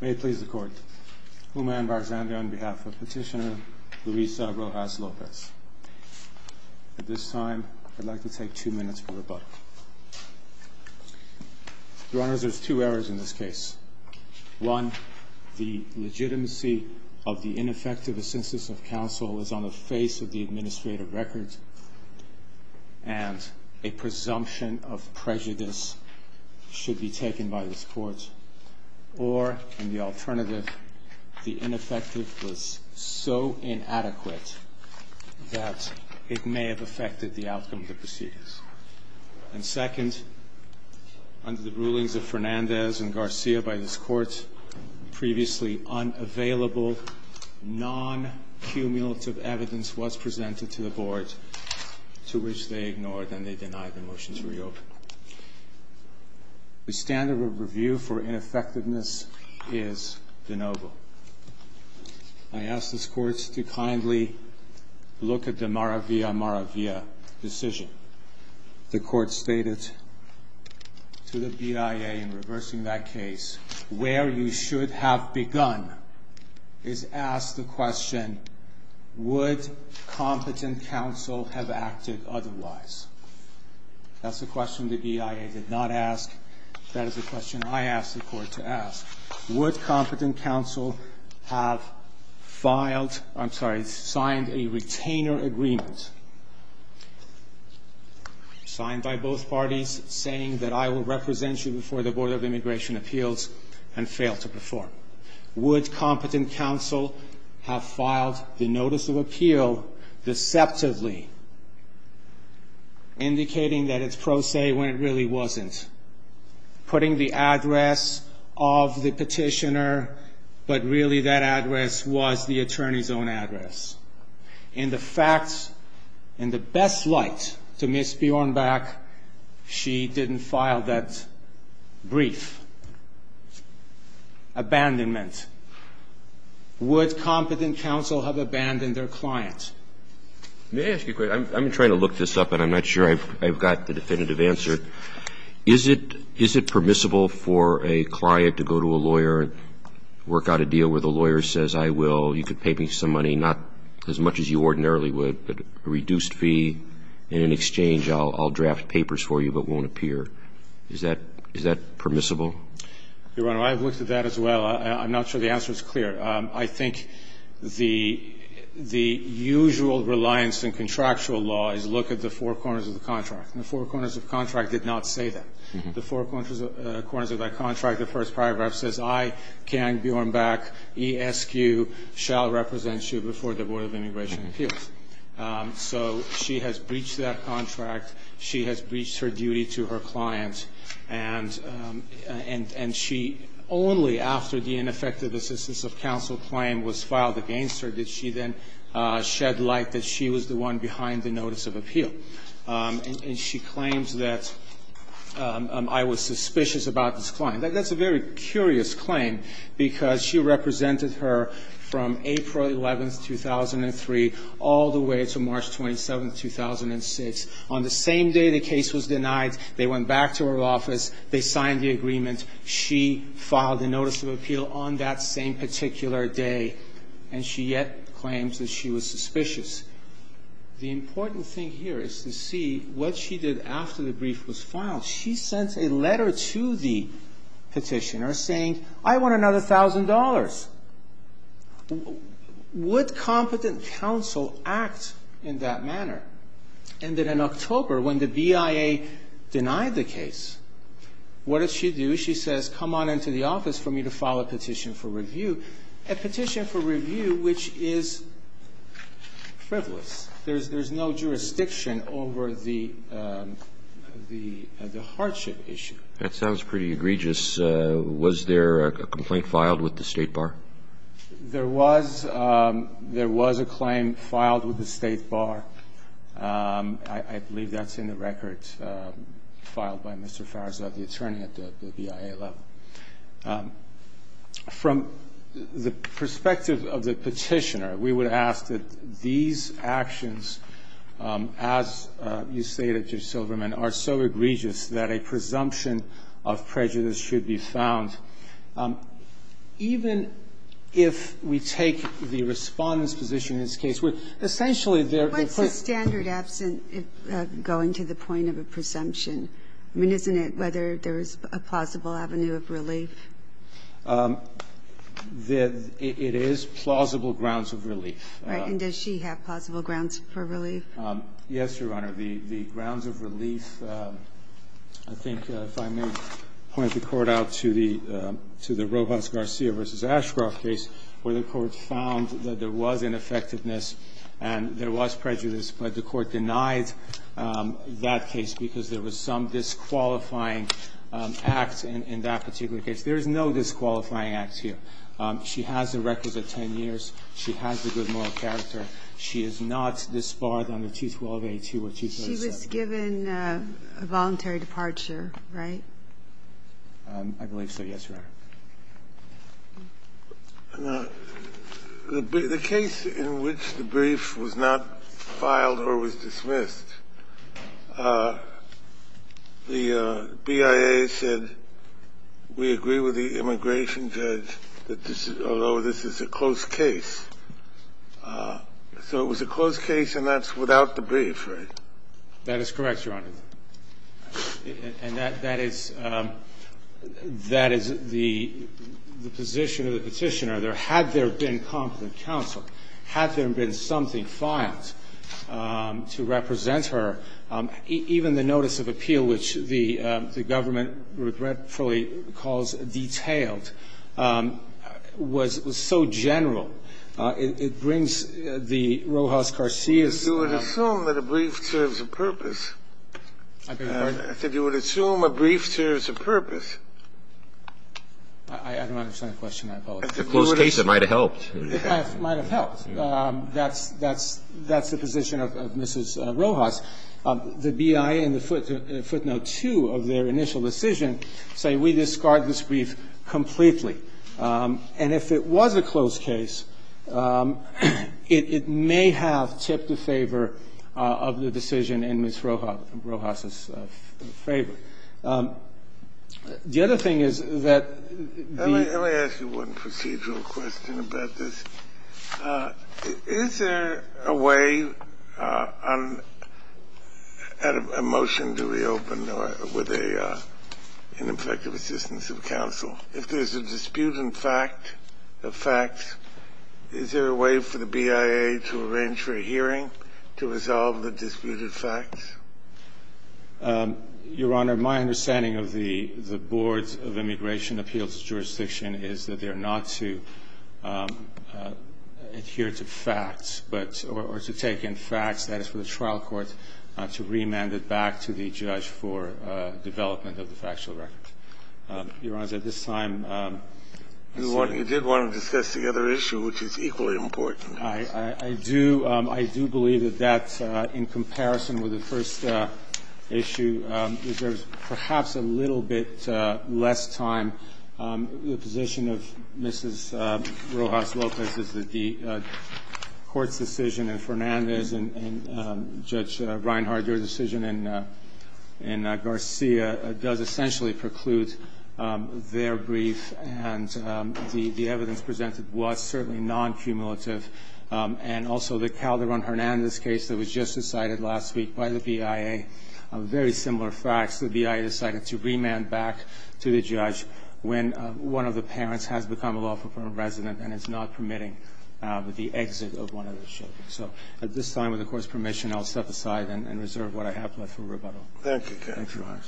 May it please the Court, Humayun Barzandi on behalf of Petitioner Luisa Rojas-Lopez. At this time, I'd like to take two minutes for rebuttal. Your Honors, there's two errors in this case. One, the legitimacy of the ineffective assent of counsel is on the face of the administrative records, and a presumption of prejudice should be taken by this Court. Or, in the alternative, the ineffective was so inadequate that it may have affected the outcome of the proceedings. And second, under the rulings of Fernandez and Garcia by this Court, previously unavailable, non-cumulative evidence was presented to the Board, to which they ignored and they denied the motion to reopen. The standard of review for ineffectiveness is de novo. I ask this Court to kindly look at the Maravilla-Maravilla decision. The Court stated to the BIA in reversing that case, where you should have begun is ask the question, would competent counsel have acted otherwise? That's the question the BIA did not ask. That is the question I ask the Court to ask. Would competent counsel have filed – I'm sorry, signed a retainer agreement, signed by both parties, saying that I will represent you before the Board of Immigration Appeals and fail to perform? Would competent counsel have filed the notice of appeal deceptively indicating that it's pro se when it really wasn't? Putting the address of the petitioner, but really that address was the attorney's own address. In the facts, in the best light to Ms. Bjornback, she didn't file that brief. Abandonment. Would competent counsel have abandoned their client? That's the question I ask the Court to ask. Roberts. Let me ask you a question. I'm trying to look this up, and I'm not sure I've got the definitive answer. Is it permissible for a client to go to a lawyer and work out a deal where the lawyer says, I will, you could pay me some money, not as much as you ordinarily would, but a reduced fee, and in exchange I'll draft papers for you but won't appear? Is that permissible? Your Honor, I've looked at that as well. I'm not sure the answer is clear. I think the usual reliance in contractual law is look at the four corners of the contract, and the four corners of the contract did not say that. The four corners of that contract, the first paragraph says, I, Kang Bjornback, E.S.Q., shall represent you before the Board of Immigration Appeals. So she has breached that contract. She has breached her duty to her client. And she only after the ineffective assistance of counsel claim was filed against her did she then shed light that she was the one behind the notice of appeal. And she claims that I was suspicious about this client. That's a very curious claim because she represented her from April 11, 2003, all the way to March 27, 2006. On the same day the case was denied, they went back to her office. They signed the agreement. She filed the notice of appeal on that same particular day. And she yet claims that she was suspicious. The important thing here is to see what she did after the brief was filed. She sent a letter to the petitioner saying, I want another thousand dollars. Would competent counsel act in that manner? And that in October, when the BIA denied the case, what did she do? She says, come on into the office for me to file a petition for review, a petition for review which is frivolous. There's no jurisdiction over the hardship issue. Roberts. That sounds pretty egregious. Was there a complaint filed with the State Bar? There was a claim filed with the State Bar. I believe that's in the record filed by Mr. Farzad, the attorney at the BIA level. From the perspective of the petitioner, we would ask that these actions, as you say are so egregious that a presumption of prejudice should be found. Even if we take the Respondent's position in this case, where essentially there are complaints. What's the standard absent going to the point of a presumption? I mean, isn't it whether there is a plausible avenue of relief? It is plausible grounds of relief. Yes, Your Honor. The grounds of relief, I think if I may point the Court out to the Robles-Garcia v. Ashcroft case where the Court found that there was ineffectiveness and there was prejudice, but the Court denied that case because there was some disqualifying act in that particular case. There is no disqualifying act here. She has the records of 10 years. She has the good moral character. She is not disbarred under 212A2 or 237. She was given a voluntary departure, right? I believe so, yes, Your Honor. The case in which the brief was not filed or was dismissed, the BIA said we agree with the immigration judge that this is a close case. So it was a close case and that's without the brief, right? That is correct, Your Honor. And that is the position of the Petitioner. Had there been competent counsel, had there been something filed to represent her, even the notice of appeal, which the government regretfully calls detailed, was so general, it brings the Rojas-Carcias. You would assume that a brief serves a purpose. I beg your pardon? I said you would assume a brief serves a purpose. I don't understand the question. It's a close case. It might have helped. It might have helped. That's the position of Mrs. Rojas. The BIA in footnote 2 of their initial decision say we discard this brief completely. And if it was a close case, it may have tipped the favor of the decision in Ms. Rojas' favor. The other thing is that the ---- Is there a way on a motion to reopen with an effective assistance of counsel? If there's a dispute in fact, of facts, is there a way for the BIA to arrange for a hearing to resolve the disputed facts? Your Honor, my understanding of the Boards of Immigration Appeals of Jurisdiction is that they are not to adhere to facts, but or to take in facts, that is, for the trial court to remand it back to the judge for development of the factual record. Your Honor, at this time, I see ---- You did want to discuss the other issue, which is equally important. I do. I do believe that that, in comparison with the first issue, there's perhaps a little bit less time. The position of Mrs. Rojas-Lopez is that the court's decision in Fernandez and Judge Reinhardt, your decision in Garcia, does essentially preclude their brief, and the evidence presented was certainly non-cumulative. And also the Calderon-Hernandez case that was just decided last week by the BIA, very similar facts. The BIA decided to remand back to the judge when one of the parents has become a lawful permanent resident and is not permitting the exit of one of the children. So at this time, with the Court's permission, I'll set aside and reserve what I have left for rebuttal. Thank you, counsel. Thank you, Your Honor.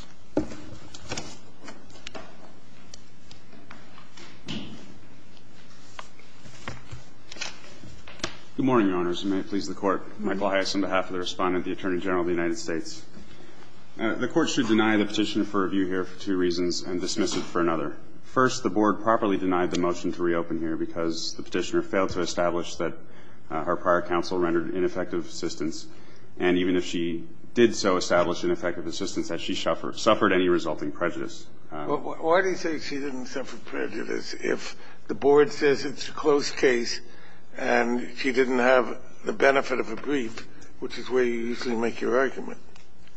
Good morning, Your Honors. May it please the Court. Michael Hias on behalf of the Respondent, the Attorney General of the United States. The Court should deny the Petitioner for review here for two reasons and dismiss it for another. First, the Board properly denied the motion to reopen here because the Petitioner failed to establish that her prior counsel rendered ineffective assistance, and even if she did so establish ineffective assistance, that she suffered any resulting prejudice. Well, why do you say she didn't suffer prejudice if the Board says it's a closed case and she didn't have the benefit of a brief, which is where you usually make your argument?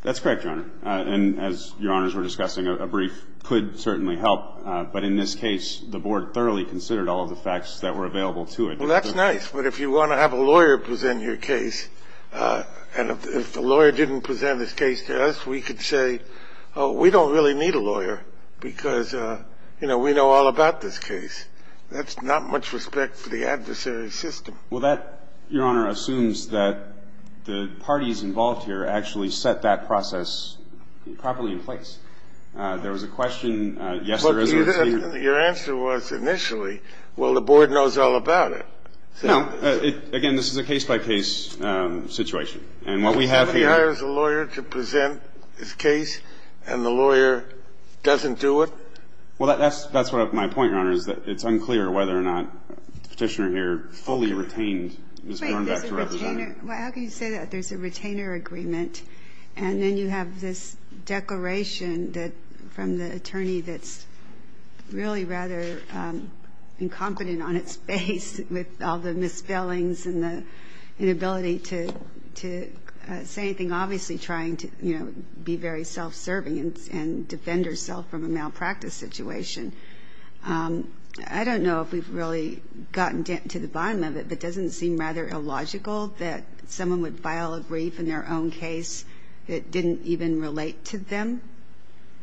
That's correct, Your Honor. And as Your Honors were discussing, a brief could certainly help. But in this case, the Board thoroughly considered all of the facts that were available to it. Well, that's nice. But if you want to have a lawyer present your case, and if the lawyer didn't present his case to us, we could say, oh, we don't really need a lawyer because, you know, we know all about this case. That's not much respect for the adversary system. Well, that, Your Honor, assumes that the parties involved here actually set that process properly in place. There was a question, yes, there is. But your answer was initially, well, the Board knows all about it. No. Again, this is a case-by-case situation. And what we have here is a lawyer to present his case, and the lawyer doesn't do it? Well, that's what my point, Your Honor, is that it's unclear whether or not the Petitioner here fully retained his going back to representing. Well, how can you say that? There's a retainer agreement, and then you have this declaration from the attorney that's really rather incompetent on its face with all the misspellings and the inability to say anything, obviously trying to, you know, be very self-serving and defend herself from a malpractice situation. I don't know if we've really gotten to the bottom of it, but doesn't it seem rather illogical that someone would file a brief in their own case that didn't even relate to them?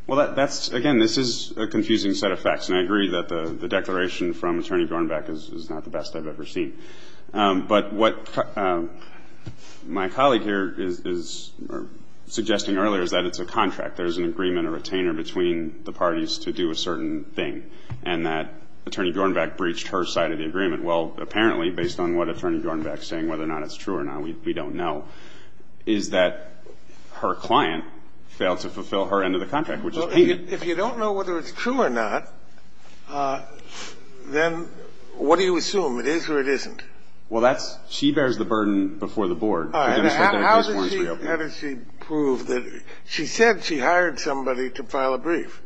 Well, that's, again, this is a confusing set of facts. And I agree that the declaration from Attorney Gornbeck is not the best I've ever seen. But what my colleague here is suggesting earlier is that it's a contract. There's an agreement, a retainer, between the parties to do a certain thing, and that Attorney Gornbeck breached her side of the agreement. Well, apparently, based on what Attorney Gornbeck's saying, whether or not it's true or not, we don't know, is that her client failed to fulfill her end of the contract, which is hanging. If you don't know whether it's true or not, then what do you assume? It is or it isn't? Well, that's – she bears the burden before the Board. All right. How does she prove that – she said she hired somebody to file a brief.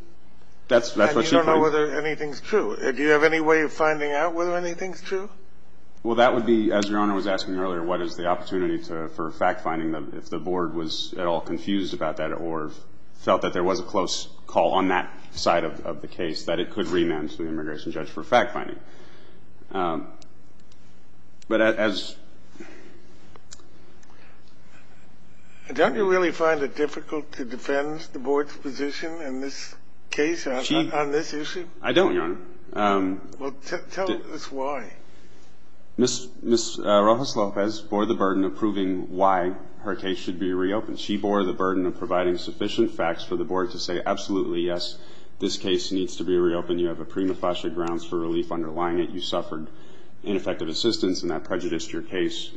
That's what she claims. And you don't know whether anything's true. Do you have any way of finding out whether anything's true? Well, that would be, as Your Honor was asking earlier, what is the opportunity for fact-finding if the Board was at all confused about that or felt that there was a close call on that side of the case, that it could remand to the immigration judge for fact-finding. But as – Don't you really find it difficult to defend the Board's position in this case on this I don't, Your Honor. Well, tell us why. Ms. Rojas-Lopez bore the burden of proving why her case should be reopened. She bore the burden of providing sufficient facts for the Board to say, absolutely, yes, this case needs to be reopened. You have a prima facie grounds for relief on her part. You're lying. You suffered ineffective assistance, and that prejudiced your case.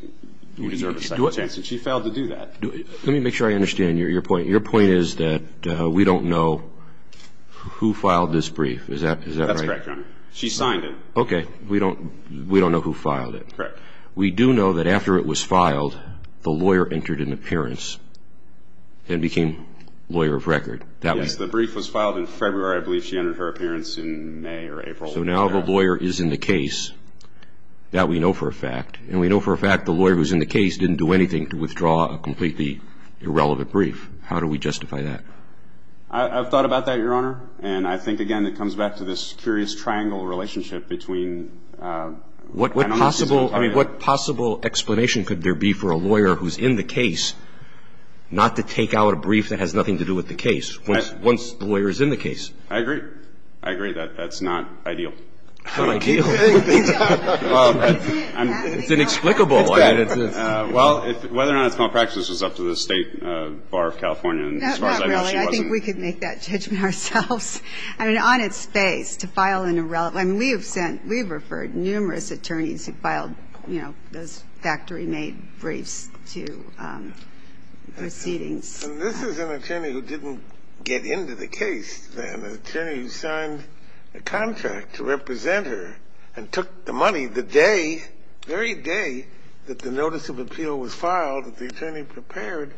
You deserve a second chance. And she failed to do that. Let me make sure I understand your point. Your point is that we don't know who filed this brief. Is that right? That's correct, Your Honor. She signed it. Okay. We don't know who filed it. Correct. We do know that after it was filed, the lawyer entered an appearance and became lawyer of record. Yes. The brief was filed in February. I believe she entered her appearance in May or April. So now the lawyer is in the case. That we know for a fact. And we know for a fact the lawyer who's in the case didn't do anything to withdraw a completely irrelevant brief. How do we justify that? I've thought about that, Your Honor. And I think, again, it comes back to this curious triangle relationship between kind of misuse of authority. What possible explanation could there be for a lawyer who's in the case not to take out a brief that has nothing to do with the case once the lawyer is in the case? I agree. I agree. That's not ideal. Not ideal? It's inexplicable. It's bad. Well, whether or not it's malpractice is up to the State Bar of California. Not really. I think we could make that judgment ourselves. I mean, on its face, to file an irrelevant. I mean, we have sent, we have referred numerous attorneys who filed, you know, those factory-made briefs to proceedings. And this is an attorney who didn't get into the case, then, an attorney who signed a contract to represent her and took the money the day, very day, that the notice of appeal was filed that the attorney prepared,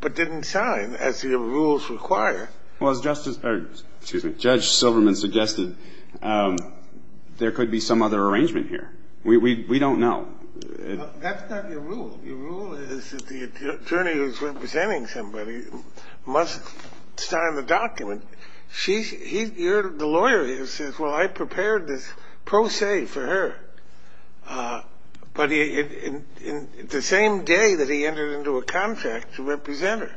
but didn't sign as the rules require. Well, as Justice – or, excuse me, Judge Silverman suggested, there could be some other arrangement here. We don't know. That's not your rule. Your rule is that the attorney who's representing somebody must sign the document. She's – you're the lawyer who says, well, I prepared this pro se for her. But the same day that he entered into a contract to represent her.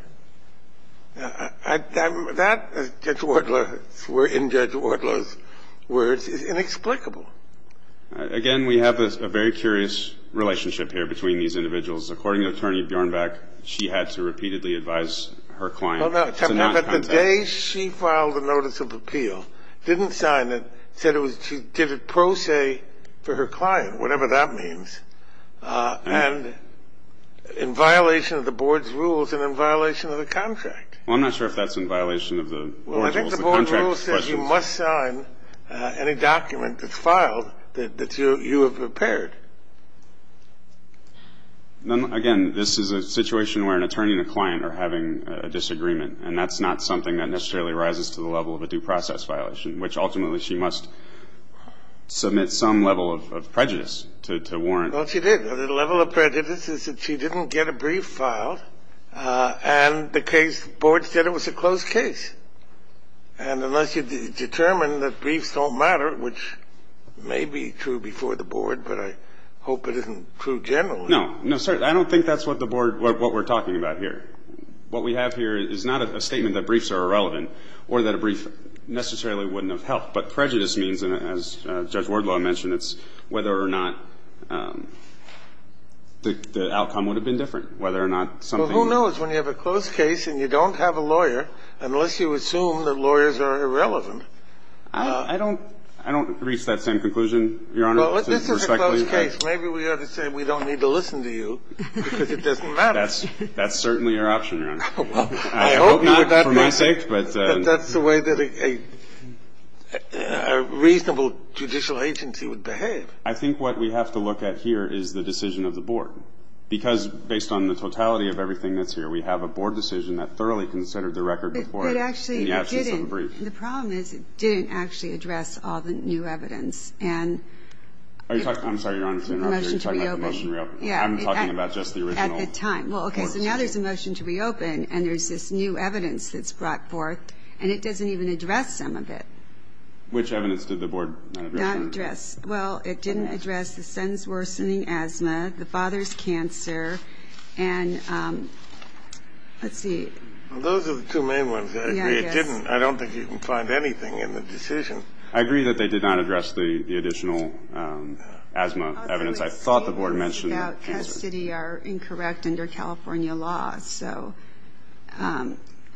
That, Judge Wardlow, in Judge Wardlow's words, is inexplicable. Again, we have a very curious relationship here between these individuals. According to Attorney Bjornback, she had to repeatedly advise her client to not contact her. But the day she filed the notice of appeal, didn't sign it, said it was – she did it pro se for her client, whatever that means, and in violation of the board's rules and in violation of the contract. Well, I'm not sure if that's in violation of the board's rules, the contract's questions. But she must sign any document that's filed that you have prepared. Again, this is a situation where an attorney and a client are having a disagreement, and that's not something that necessarily rises to the level of a due process violation, which ultimately she must submit some level of prejudice to warrant. Well, she did. The level of prejudice is that she didn't get a brief filed, and the case – the board said it was a closed case. And unless you determine that briefs don't matter, which may be true before the board, but I hope it isn't true generally. No. No, sir. I don't think that's what the board – what we're talking about here. What we have here is not a statement that briefs are irrelevant or that a brief necessarily wouldn't have helped. But prejudice means, as Judge Wardlaw mentioned, it's whether or not the outcome would have been different, whether or not something – Well, who knows? When you have a closed case and you don't have a lawyer, unless you assume that lawyers are irrelevant – I don't – I don't reach that same conclusion, Your Honor. Well, this is a closed case. Maybe we ought to say we don't need to listen to you because it doesn't matter. That's certainly your option, Your Honor. I hope not for my sake, but – I hope not that that's the way that a reasonable judicial agency would behave. I think what we have to look at here is the decision of the board. Because based on the totality of everything that's here, we have a board decision that thoroughly considered the record before in the absence of a brief. It actually didn't. The problem is it didn't actually address all the new evidence. And – I'm sorry, Your Honor, to interrupt you. You're talking about the motion to reopen. Yeah. I'm talking about just the original – At the time. Well, okay. So now there's a motion to reopen, and there's this new evidence that's brought forth, and it doesn't even address some of it. Which evidence did the board not address? Well, it didn't address the son's worsening asthma, the father's cancer, and – let's see. Those are the two main ones. I agree. It didn't. I don't think you can find anything in the decision. I agree that they did not address the additional asthma evidence. I thought the board mentioned – All the receipts without custody are incorrect under California law, so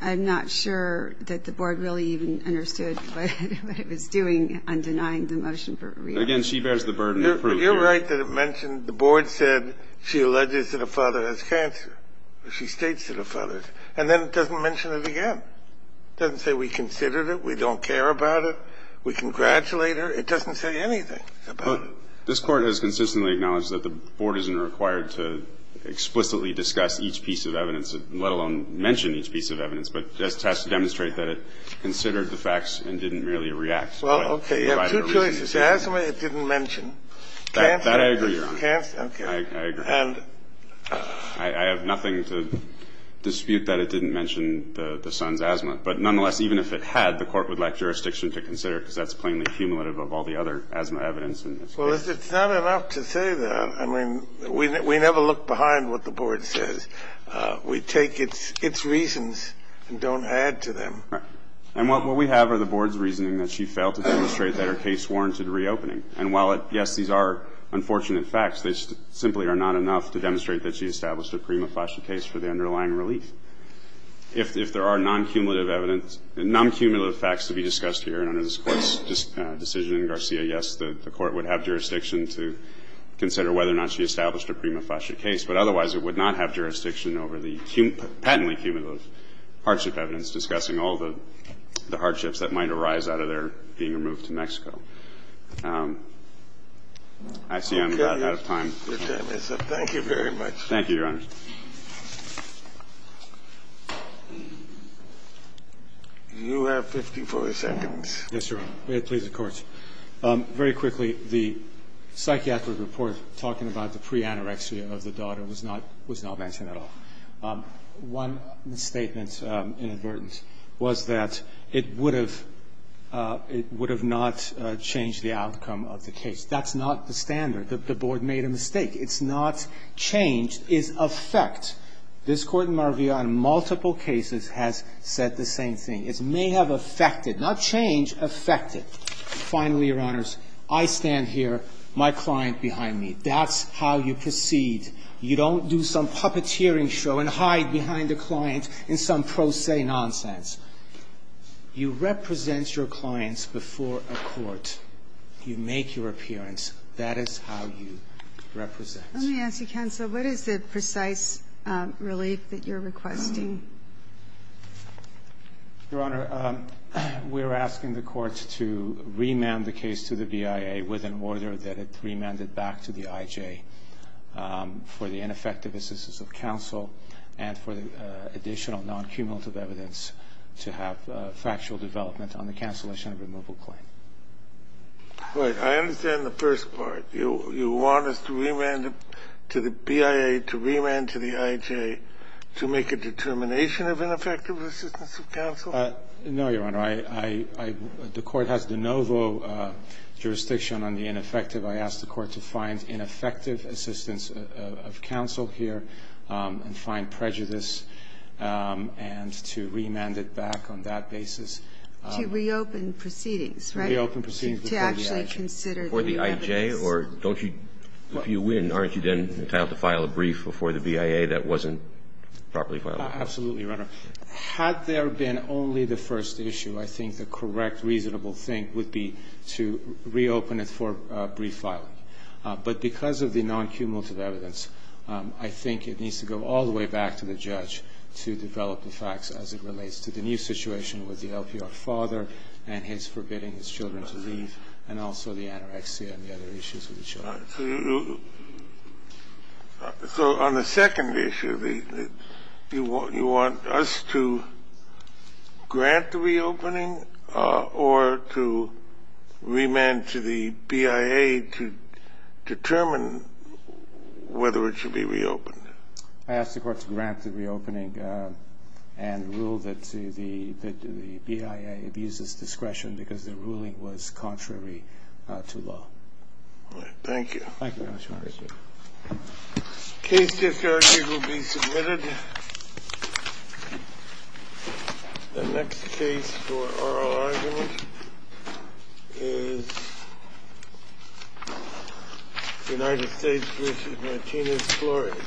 I'm not sure that the board really even understood what it was doing Again, she bears the burden of proof. You're right that it mentioned – the board said she alleges that her father has cancer. She states that her father – and then it doesn't mention it again. It doesn't say we considered it, we don't care about it, we congratulate her. It doesn't say anything about it. But this Court has consistently acknowledged that the board isn't required to explicitly discuss each piece of evidence, let alone mention each piece of evidence, but just has to demonstrate that it considered the facts and didn't merely react. Well, okay. You have two choices. Asthma it didn't mention. Cancer – That I agree on. Okay. I agree. And – I have nothing to dispute that it didn't mention the son's asthma. But nonetheless, even if it had, the court would like jurisdiction to consider it because that's plainly cumulative of all the other asthma evidence in this case. Well, it's not enough to say that. I mean, we never look behind what the board says. We take its reasons and don't add to them. Right. And what we have are the board's reasoning that she failed to demonstrate that her case warranted reopening. And while, yes, these are unfortunate facts, they simply are not enough to demonstrate that she established a prima facie case for the underlying relief. If there are non-cumulative evidence – non-cumulative facts to be discussed here and under this Court's decision, Garcia, yes, the court would have jurisdiction to consider whether or not she established a prima facie case, but otherwise it would not have jurisdiction over the patently cumulative hardship evidence discussing all the hardships that might arise out of their being removed to Mexico. I see I'm running out of time. Your time is up. Thank you very much. Thank you, Your Honor. You have 54 seconds. Yes, Your Honor. Please, the Court. Very quickly, the psychiatric report talking about the pre-anorexia of the daughter was not – was not mentioned at all. One misstatement inadvertent was that it would have – it would have not changed the outcome of the case. That's not the standard. The Board made a mistake. It's not change. It's effect. This Court in my review on multiple cases has said the same thing. It may have effected – not change, effected. Finally, Your Honors, I stand here, my client behind me. That's how you proceed. You don't do some puppeteering show and hide behind a client in some pro se nonsense. You represent your clients before a court. You make your appearance. That is how you represent. Let me ask you, counsel, what is the precise relief that you're requesting? Your Honor, we're asking the court to remand the case to the BIA with an order that it remanded back to the IJ. We're asking the court to remand the case to the IJ with an order that it remanded back to the BIA with an order that it remanded back to the IJ for the ineffective assistance of counsel and for the additional non-cumulative evidence to have factual development on the cancellation of removal claim. Right. I understand the first part. You want us to remand to the BIA, to remand to the IJ to make a determination of ineffective assistance of counsel? No, Your Honor. I – the court has de novo jurisdiction on the ineffective. I ask the court to find ineffective assistance of counsel here and find prejudice and to remand it back on that basis. To reopen proceedings, right? To reopen proceedings before the IJ. To actually consider the irrelevance. Before the IJ, or don't you – if you win, aren't you then entitled to file a brief before the BIA that wasn't properly filed? Absolutely, Your Honor. Had there been only the first issue, I think the correct reasonable thing would be to reopen it for brief filing. But because of the non-cumulative evidence, I think it needs to go all the way back to the judge to develop the facts as it relates to the new situation with the LPR father and his forbidding his children to leave and also the anorexia and the other issues with the children. So on the second issue, you want us to grant the reopening or to remand to the BIA to determine whether it should be reopened? I ask the court to grant the reopening and rule that the BIA abuses discretion because the ruling was contrary to law. Thank you. Thank you very much, Your Honor. Case discretionary will be submitted. The next case for oral argument is United States v. Martinez-Flores.